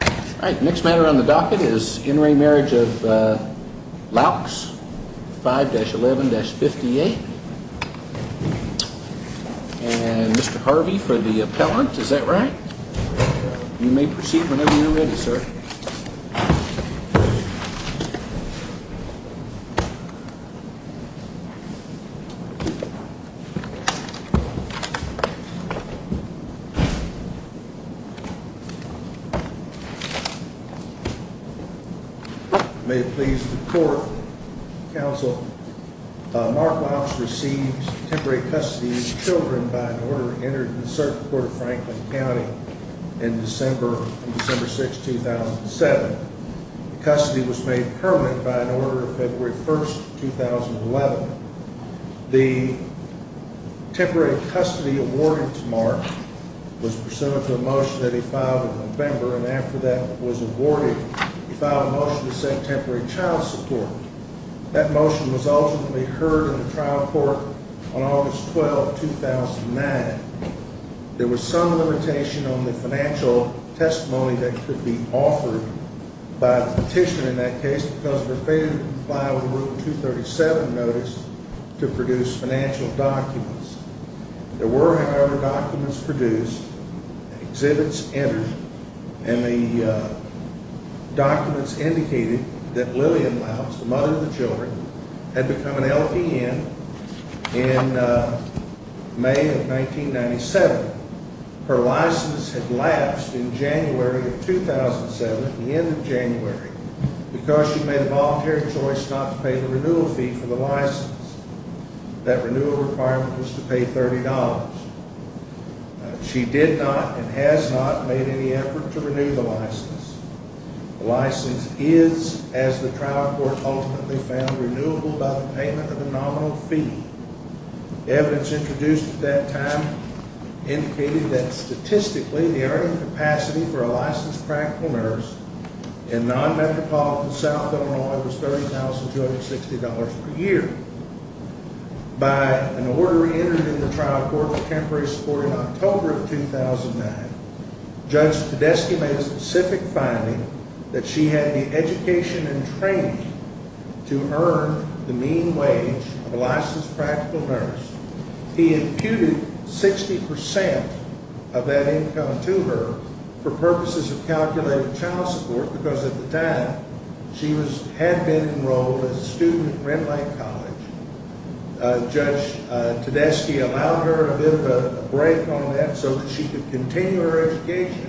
5-11-58. And Mr. Harvey for the appellant, is that right? You may proceed whenever you are ready, sir. May it please the Court, Counsel, Mark Loucks received temporary custody of his children by an order entered in the Circuit Court of Franklin County in December 6, 2007. The custody was made permanent by an order of February 1, 2011. The temporary custody awarded to Mark was pursuant to a motion that he filed in November. And after that was awarded, he filed a motion to send temporary child support. That motion was ultimately heard in the trial court on August 12, 2009. There was some limitation on the financial testimony that could be offered by the petitioner in that case because of a failure to comply with Rule 237 notice to produce financial documents. There were, however, documents produced, exhibits entered, and the documents indicated that Lillian Loucks, the mother of the children, had become an LPN in May of 1997. Her license had lapsed in January of 2007, the end of January, because she made a voluntary choice not to pay the renewal fee for the license. That renewal requirement was to pay $30. She did not and has not made any effort to renew the license. The license is, as the trial court ultimately found, renewable by the payment of the nominal fee. Evidence introduced at that time indicated that statistically, the earning capacity for a licensed practical nurse in non-metropolitan South Illinois was $30,260 per year. By an order reentered in the trial court for temporary support in October of 2009, judge Tedeschi made a specific finding that she had the education and training to earn the mean wage of a licensed practical nurse. He imputed 60% of that income to her for purposes of calculating child support because at the time she had been enrolled as a student at Red Lake College. Judge Tedeschi allowed her a bit of a break on that so that she could continue her education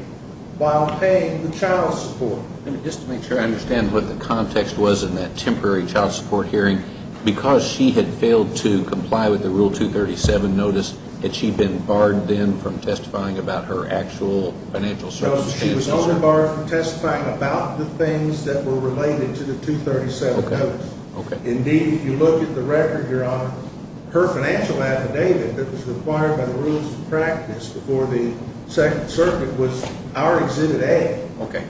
while paying the child support. Just to make sure I understand what the context was in that temporary child support hearing, because she had failed to comply with the Rule 237 notice, had she been barred then from testifying about her actual financial circumstances? No, she was only barred from testifying about the things that were related to the 237 notice. Indeed, if you look at the record, Your Honor, her financial affidavit that was required by the rules of practice before the Second Circuit was our Exhibit A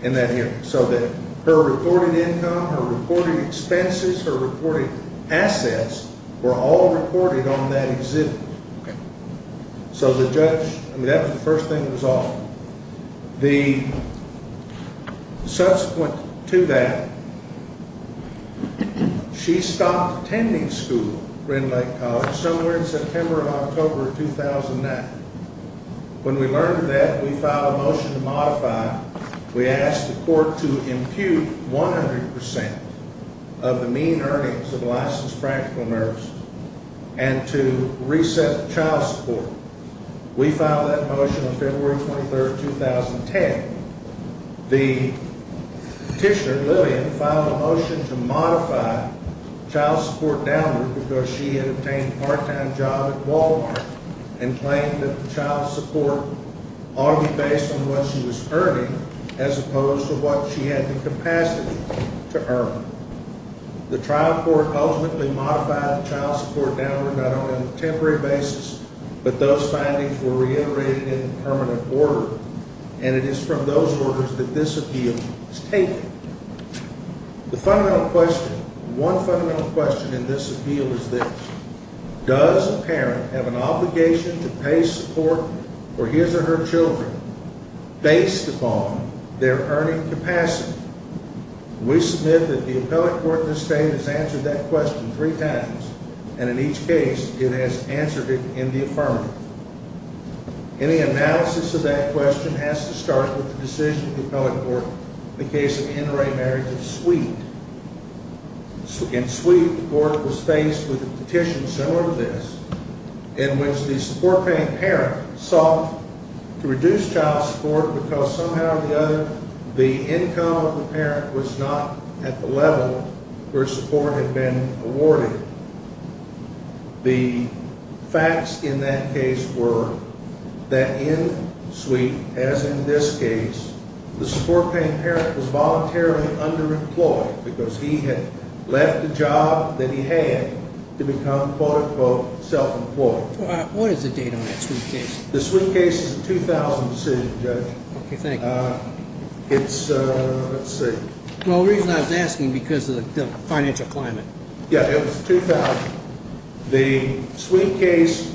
in that hearing. So that her reported income, her reported expenses, her reported assets were all reported on that exhibit. So the judge, I mean that was the first thing that was offered. The subsequent to that, she stopped attending school at Red Lake College somewhere in September or October of 2009. When we learned of that, we filed a motion to modify. We asked the court to impute 100% of the mean earnings of a licensed practical nurse and to reset the child support. We filed that motion on February 23, 2010. The petitioner, Lillian, filed a motion to modify child support downward because she had obtained a part-time job at Walmart and claimed that the child support ought to be based on what she was earning as opposed to what she had the capacity to earn. The trial court ultimately modified the child support downward not only on a temporary basis, but those findings were reiterated in permanent order. And it is from those orders that this appeal is taken. The fundamental question, one fundamental question in this appeal is this. Does a parent have an obligation to pay support for his or her children based upon their earning capacity? We submit that the appellate court in this state has answered that question three times. And in each case, it has answered it in the affirmative. Any analysis of that question has to start with the decision of the appellate court in the case of the NRA marriage of Sweet. In Sweet, the court was faced with a petition similar to this in which the support-paying parent sought to reduce child support because somehow or the other, the income of the parent was not at the level where support had been awarded. The facts in that case were that in Sweet, as in this case, the support-paying parent was voluntarily underemployed because he had left the job that he had to become, quote, unquote, self-employed. What is the date on that Sweet case? The Sweet case is a 2000 decision, Judge. Okay, thank you. It's, let's see. Well, the reason I was asking, because of the financial climate. Yeah, it was 2000. The Sweet case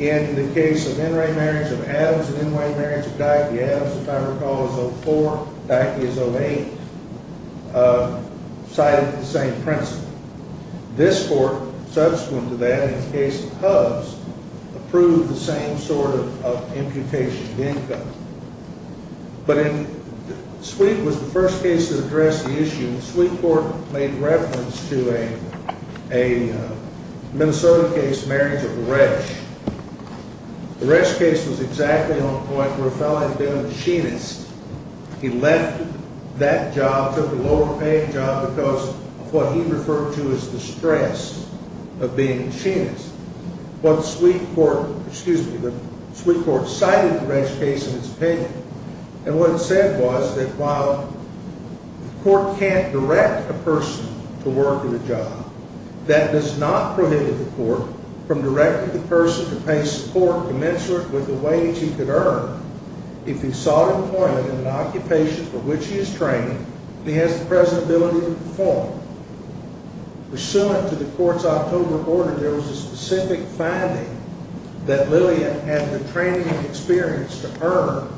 and the case of NRA marriage of Adams and NRA marriage of Dyckie Adams, if I recall, is 04. Dyckie is 08. Cited the same principle. This court, subsequent to that in the case of Hubs, approved the same sort of imputation of income. But Sweet was the first case that addressed the issue. And Sweet Court made reference to a Minnesota case, marriage of Resch. The Resch case was exactly on point where a fellow had been a machinist. He left that job, took a lower-paying job because of what he referred to as the stress of being a machinist. But Sweet Court, excuse me, but Sweet Court cited the Resch case in its opinion. And what it said was that while the court can't direct a person to work in a job, that does not prohibit the court from directing the person to pay support commensurate with the wage he could earn if he sought employment in an occupation for which he is trained and he has the present ability to perform. Pursuant to the court's October order, there was a specific finding that Lillian had the training and experience to earn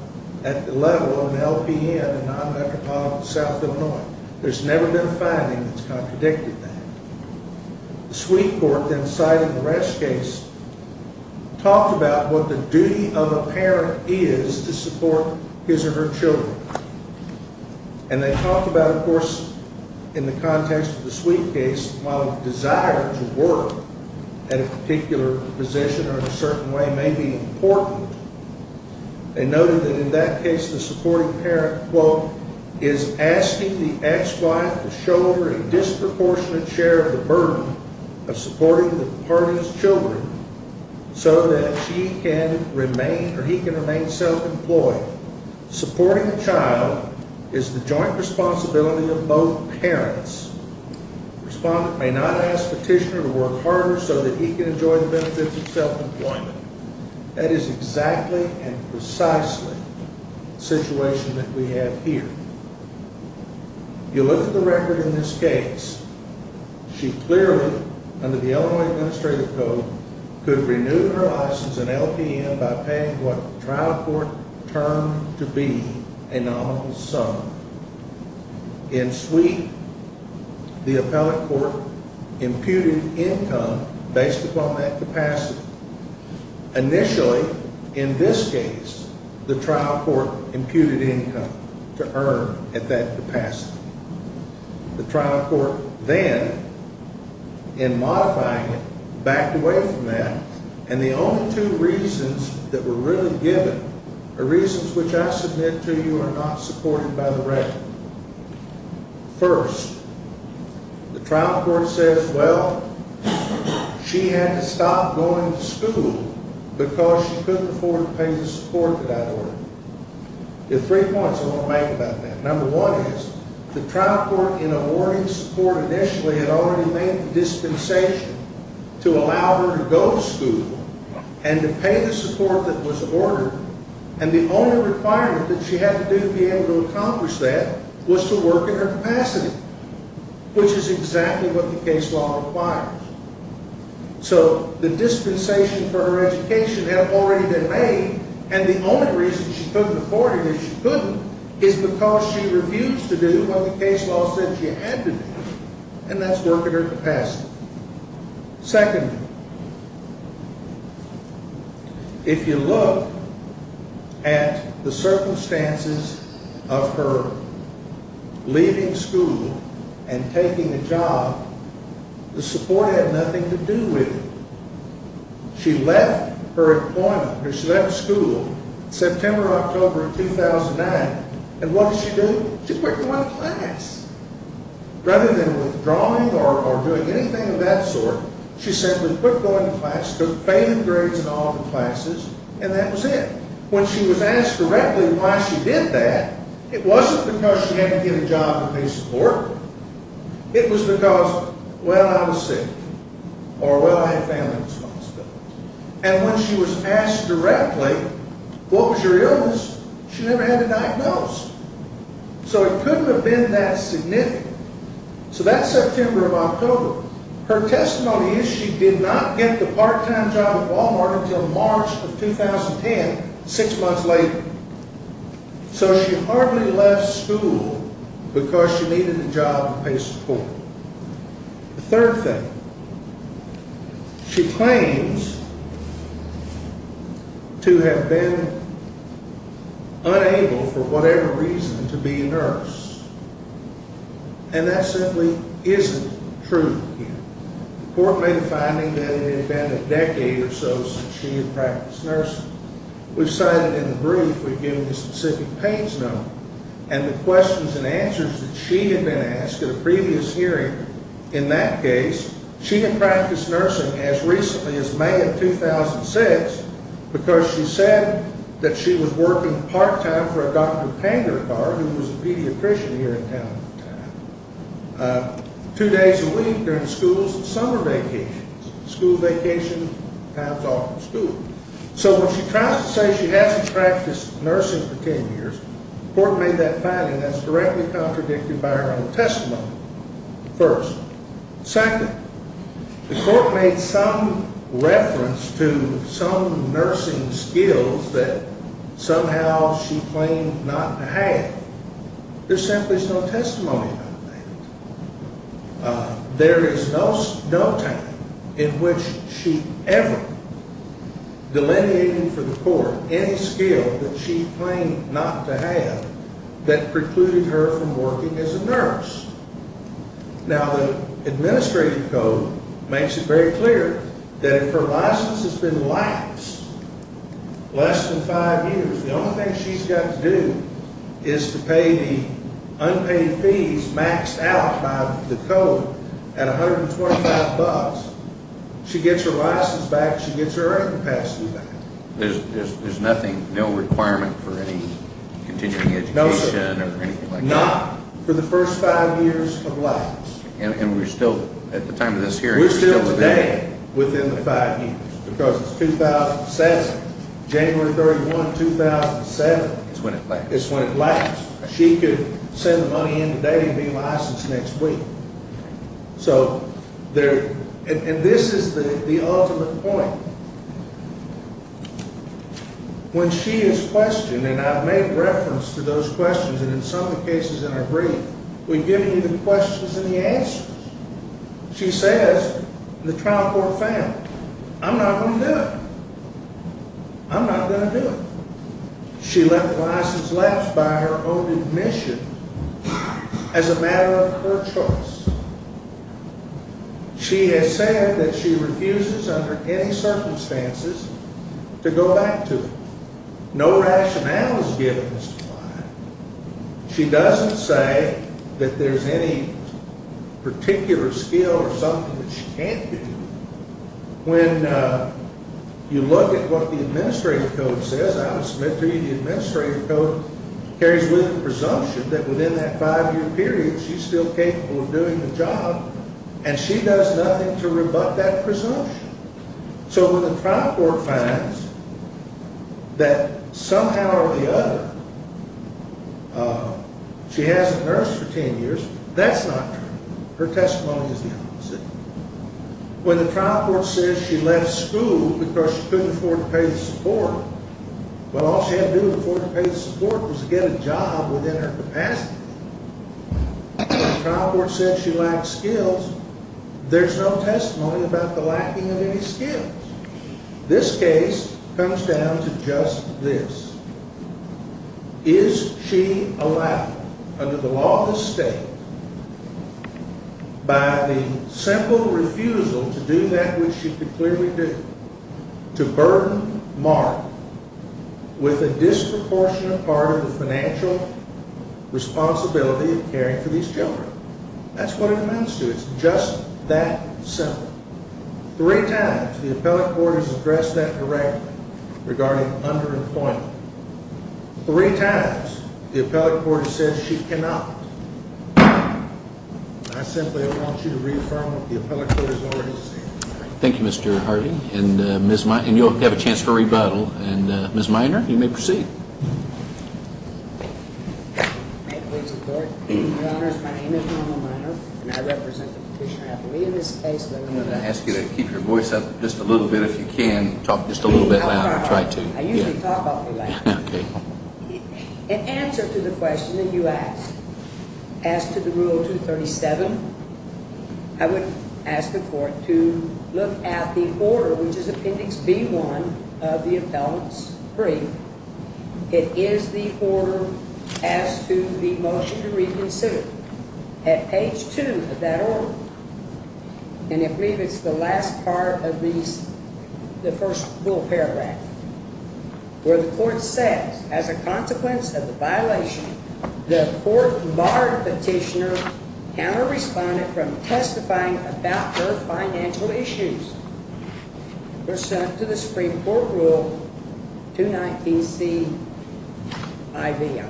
at the level of an LPN, a non-metropolitan South Illinois. There's never been a finding that's contradicted that. Sweet Court then cited the Resch case, talked about what the duty of a parent is to support his or her children. And they talked about, of course, in the context of the Sweet case, while a desire to work at a particular position or in a certain way may be important, they noted that in that case the supporting parent, quote, is asking the ex-wife to shoulder a disproportionate share of the burden of supporting the party's children so that she can remain or he can remain self-employed. Supporting the child is the joint responsibility of both parents. Respondent may not ask petitioner to work harder so that he can enjoy the benefits of self-employment. That is exactly and precisely the situation that we have here. You look at the record in this case. She clearly, under the Illinois Administrative Code, could renew her license and LPN by paying what trial court termed to be a nominal sum. In Sweet, the appellate court imputed income based upon that capacity. Initially, in this case, the trial court imputed income to earn at that capacity. The trial court then, in modifying it, backed away from that, and the only two reasons that were really given are reasons which I submit to you are not supported by the record. First, the trial court says, well, she had to stop going to school because she couldn't afford to pay the support that I ordered. There are three points I want to make about that. Number one is the trial court, in awarding support initially, had already made the dispensation to allow her to go to school and to pay the support that was ordered, and the only requirement that she had to do to be able to accomplish that was to work at her capacity, which is exactly what the case law requires. So the dispensation for her education had already been made, and the only reason she couldn't afford it, if she couldn't, is because she refused to do what the case law said she had to do, and that's work at her capacity. Second, if you look at the circumstances of her leaving school and taking a job, the support had nothing to do with it. She left her employment, or she left school, September or October of 2009, and what did she do? She quit going to class. Rather than withdrawing or doing anything of that sort, she simply quit going to class, took failing grades in all the classes, and that was it. When she was asked correctly why she did that, it wasn't because she hadn't been given a job to pay support. It was because, well, I was sick, or, well, I had family responsibilities. And when she was asked directly what was her illness, she never had it diagnosed. So it couldn't have been that significant. So that September or October, her testimony is she did not get the part-time job at Walmart until March of 2010, six months later. So she hardly left school because she needed a job to pay support. The third thing, she claims to have been unable for whatever reason to be a nurse, and that simply isn't true here. The court made a finding that it had been a decade or so since she had practiced nursing. We've cited in the brief we've given the specific pains number and the questions and answers that she had been asked at a previous hearing. In that case, she had practiced nursing as recently as May of 2006 because she said that she was working part-time for a Dr. Panger card, who was a pediatrician here in town at the time, two days a week during schools and summer vacations. School vacation times off from school. So when she tries to say she hasn't practiced nursing for 10 years, the court made that finding that's directly contradicted by her own testimony, first. Second, the court made some reference to some nursing skills that somehow she claimed not to have. There simply is no testimony about that. There is no time in which she ever delineated for the court any skill that she claimed not to have that precluded her from working as a nurse. Now, the administrative code makes it very clear that if her license has been lax less than five years, the only thing she's got to do is to pay the unpaid fees maxed out by the code at $125. She gets her license back. She gets her earning capacity back. There's nothing, no requirement for any continuing education or anything like that? No, sir. Not for the first five years of life. And we're still, at the time of this hearing, we're still today? Because it's 2007, January 31, 2007. It's when it laxed. It's when it laxed. She could send the money in today and be licensed next week. And this is the ultimate point. When she is questioned, and I've made reference to those questions and in some of the cases in our brief, we give you the questions and the answers. She says the trial court failed. I'm not going to do it. I'm not going to do it. She left the license laxed by her own admission as a matter of her choice. She has said that she refuses under any circumstances to go back to it. No rationale is given as to why. She doesn't say that there's any particular skill or something that she can't do. When you look at what the Administrative Code says, I would submit to you the Administrative Code carries with it the presumption that within that five-year period she's still capable of doing the job, and she does nothing to rebut that presumption. So when the trial court finds that somehow or the other she hasn't nursed for 10 years, that's not true. Her testimony is the opposite. When the trial court says she left school because she couldn't afford to pay the support, well, all she had to do to afford to pay the support was get a job within her capacity. When the trial court says she lacks skills, there's no testimony about the lacking of any skills. This case comes down to just this. Is she allowed, under the law of the state, by the simple refusal to do that which she could clearly do, to burden Mark with a disproportionate part of the financial responsibility of caring for these children? That's what it amounts to. It's just that simple. Three times the appellate court has addressed that directly regarding underemployment. Three times the appellate court has said she cannot. I simply want you to reaffirm what the appellate court has already said. Thank you, Mr. Harvey. And you'll have a chance for a rebuttal. And Ms. Minor, you may proceed. Your Honor, my name is Ronald Minor, and I represent the petitioner. I believe in this case that I'm going to ask you to keep your voice up just a little bit if you can. Talk just a little bit louder. I usually talk awfully loud. In answer to the question that you asked, as to the Rule 237, I would ask the court to look at the order, which is Appendix B-1 of the appellant's brief. It is the order as to the motion to reconsider. At page 2 of that order, and I believe it's the last part of the first full paragraph, where the court says, as a consequence of the violation, the court barred petitioner counter-respondent from testifying about her financial issues pursuant to the Supreme Court Rule 219C-IV, I believe.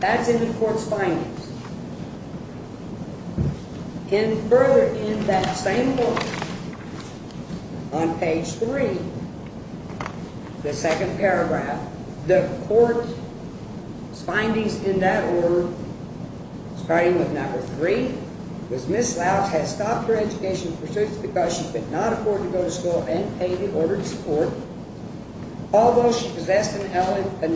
That's in the court's finance. And further, in that same order, on page 3, the second paragraph, the court's findings in that order, starting with number 3, was Ms. Louch had stopped her education pursuits because she could not afford to go to school and pay the order to support. Although she possessed an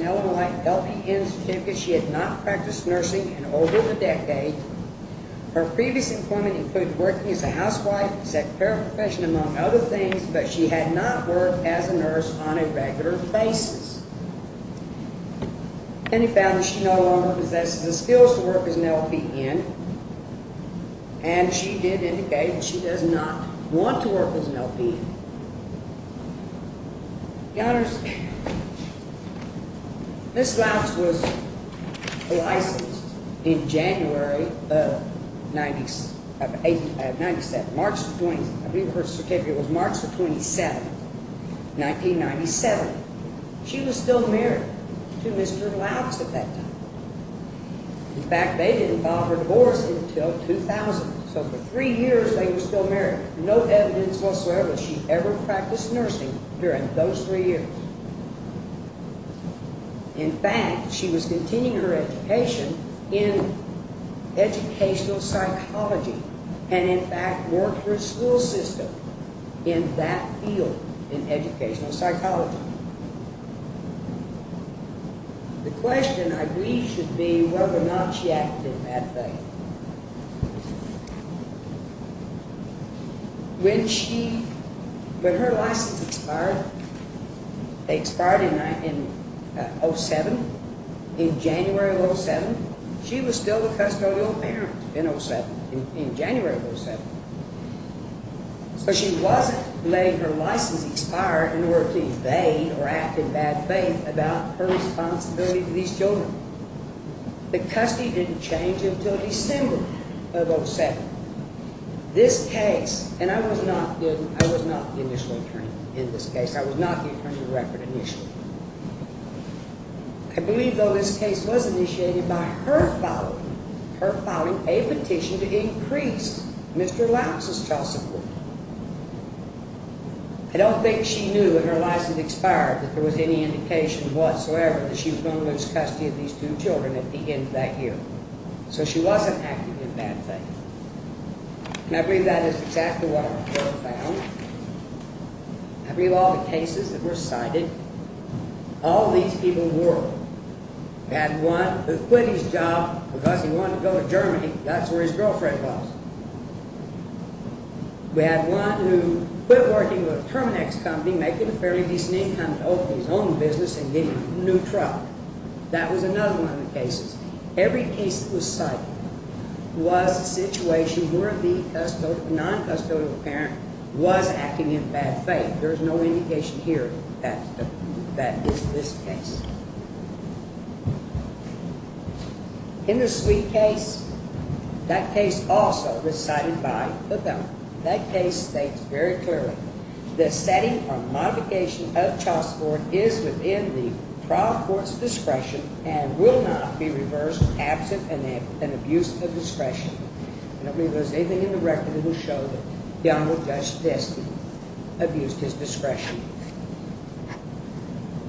Illinois LPN certificate, she had not practiced nursing in over a decade. Her previous employment included working as a housewife, secretary of profession, among other things, but she had not worked as a nurse on a regular basis. Penny found that she no longer possesses the skills to work as an LPN, and she did indicate that she does not want to work as an LPN. The honors, Ms. Louch was licensed in January of 1997. I believe her certificate was March the 27th, 1997. She was still married to Mr. Louch at that time. In fact, they didn't file her divorce until 2000. So for three years they were still married. There is no evidence whatsoever that she ever practiced nursing during those three years. In fact, she was continuing her education in educational psychology and, in fact, worked for a school system in that field, in educational psychology. The question, I believe, should be whether or not she acted in that faith. When her license expired in 07, in January of 07, she was still a custodial parent in 07, in January of 07. So she wasn't letting her license expire in order to evade or act in bad faith about her responsibility to these children. The custody didn't change until December of 07. This case, and I was not the initial attorney in this case, I was not the attorney of the record initially. I believe, though, this case was initiated by her filing, a petition to increase Mr. Louch's child support. I don't think she knew when her license expired that there was any indication whatsoever that she was going to lose custody of these two children at the end of that year. So she wasn't acting in bad faith. And I believe that is exactly what the court found. I believe all the cases that were cited, all these people were. We had one who quit his job because he wanted to go to Germany. That's where his girlfriend was. We had one who quit working with a Terminex company, making a fairly decent income to open his own business and get a new truck. That was another one of the cases. Every case that was cited was a situation where the non-custodial parent was acting in bad faith. There's no indication here that is this case. In the Sweet case, that case also was cited by the gunman. That case states very clearly, the setting or modification of child support is within the trial court's discretion and will not be reversed absent an abuse of discretion. I don't believe there's anything in the record that will show the gunman just abused his discretion.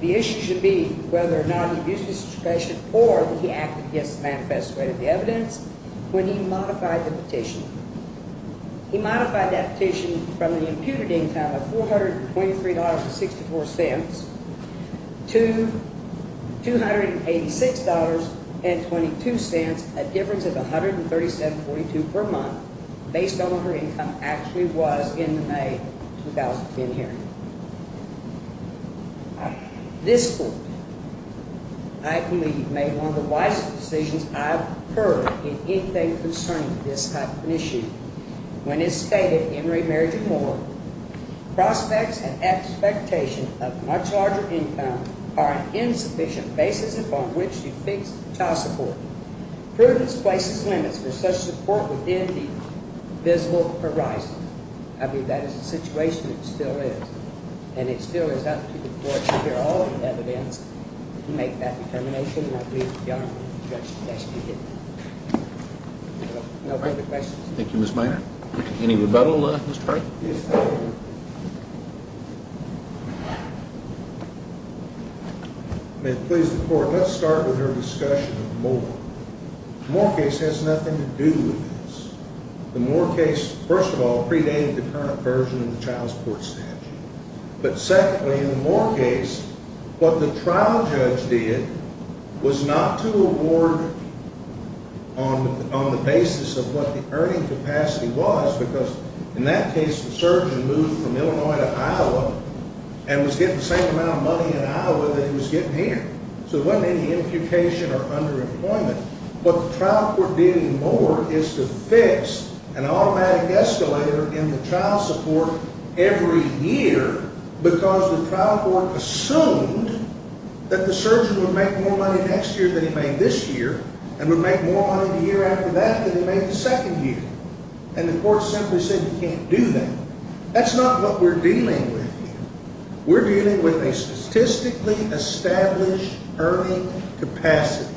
The issue should be whether or not he abused his discretion or he acted against the manifesto of the evidence when he modified the petition. He modified that petition from an imputed income of $423.64 to $286.22, a difference of $137.42 per month, based on what her income actually was in the May 2010 hearing. This court, I believe, made one of the wisest decisions I've heard in anything concerning this type of an issue. When it stated, Henry, Mary, and Moore, prospects and expectations of a much larger income are an insufficient basis upon which to fix child support. Providence places limits for such support within the visible horizon. I believe that is the situation it still is, and it still is up to the court to hear all of the evidence to make that determination, and I believe the gentleman in question has to be given that. No further questions. Thank you, Ms. Mayer. Any rebuttal, Mr. Hart? Yes, sir. May it please the court, let's start with our discussion of Moore. The Moore case has nothing to do with this. The Moore case, first of all, predated the current version of the child support statute. But secondly, in the Moore case, what the trial judge did was not to award on the basis of what the earning capacity was, because in that case, the surgeon moved from Illinois to Iowa and was getting the same amount of money in Iowa that he was getting here. So there wasn't any imputation or underemployment. What the trial court did in Moore is to fix an automatic escalator in the child support every year because the trial court assumed that the surgeon would make more money next year than he made this year and would make more money the year after that than he made the second year. And the court simply said you can't do that. That's not what we're dealing with here. We're dealing with a statistically established earning capacity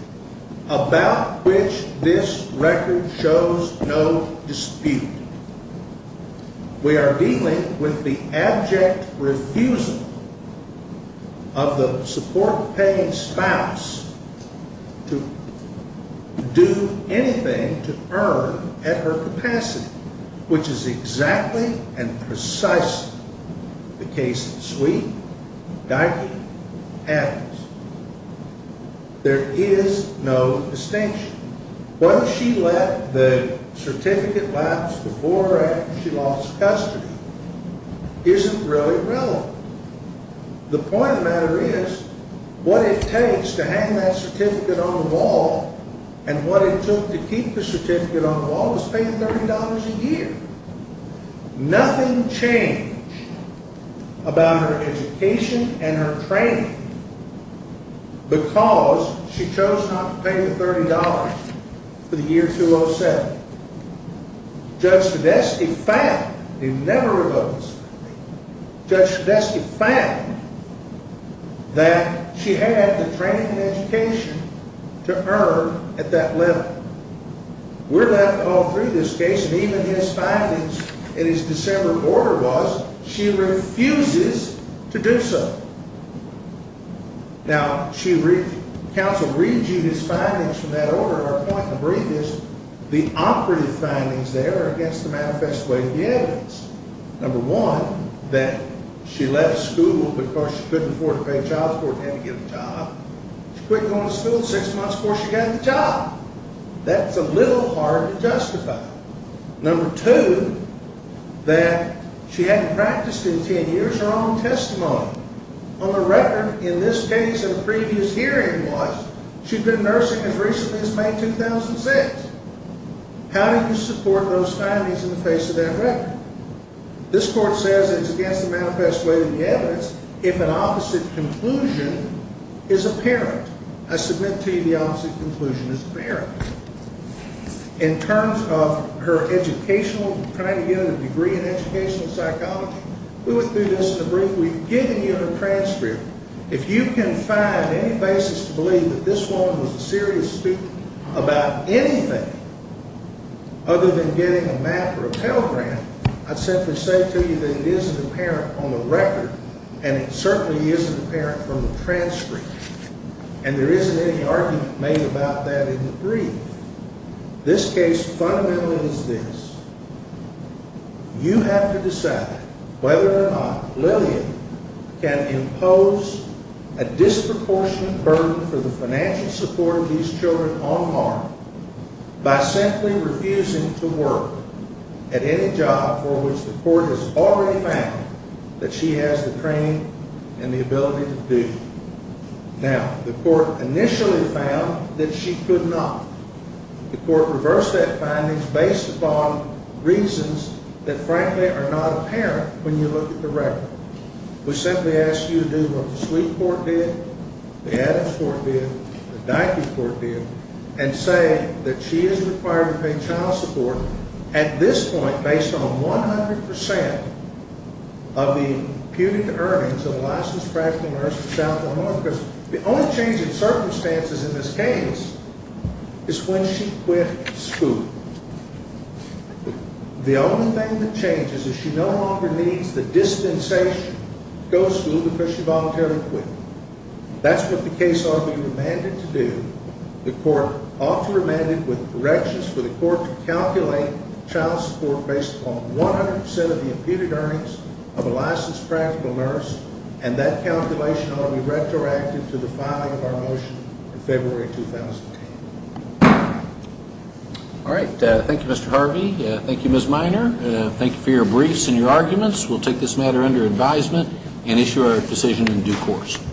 about which this record shows no dispute. We are dealing with the abject refusal of the support-paying spouse to do anything to earn at her capacity, which is exactly and precisely the case of Sweet, Dikey, and Adams. There is no distinction. Whether she let the certificate lapse before or after she lost custody isn't really relevant. The point of the matter is what it takes to hang that certificate on the wall and what it took to keep the certificate on the wall was paying $30 a year. Nothing changed about her education and her training because she chose not to pay the $30 for the year 2007. Judge Sredesky found, he never revoked his certificate, Judge Sredesky found that she had the training and education to earn at that level. We're left all through this case, and even his findings in his December order was she refuses to do so. Now, counsel reads you his findings from that order, and our point in the brief is the operative findings there are against the manifest way of the evidence. Number one, that she left school because she couldn't afford to pay child support and had to get a job. She quit going to school six months before she got the job. That's a little hard to justify. Number two, that she hadn't practiced in 10 years her own testimony. On the record, in this case, the previous hearing was she'd been nursing as recently as May 2006. How do you support those findings in the face of that record? This court says it's against the manifest way of the evidence if an opposite conclusion is apparent. I submit to you the opposite conclusion is apparent. In terms of her educational, trying to get a degree in educational psychology, we went through this in the brief. We've given you her transcript. If you can find any basis to believe that this woman was a serious student about anything other than getting a MAP or a Pell Grant, I simply say to you that it isn't apparent on the record, and it certainly isn't apparent from the transcript, and there isn't any argument made about that in the brief. This case fundamentally is this. You have to decide whether or not Lillian can impose a disproportionate burden for the financial support of these children on Mark by simply refusing to work at any job for which the court has already found that she has the training and the ability to do. Now, the court initially found that she could not. The court reversed that finding based upon reasons that, frankly, are not apparent when you look at the record. We simply ask you to do what the Sweet court did, the Adams court did, the Dyke court did, and say that she is required to pay child support at this point based on 100 percent of the imputed earnings of a licensed practical nurse for South and North, because the only change in circumstances in this case is when she quit school. The only thing that changes is she no longer needs the distanciation to go to school because she voluntarily quit. That's what the case ought to be remanded to do. The court ought to remand it with corrections for the court to calculate child support based upon 100 percent of the imputed earnings of a licensed practical nurse, and that calculation ought to be retroactive to the filing of our motion in February 2008. All right. Thank you, Mr. Harvey. Thank you, Ms. Minor. Thank you for your briefs and your arguments. We'll take this matter under advisement and issue our decision in due course.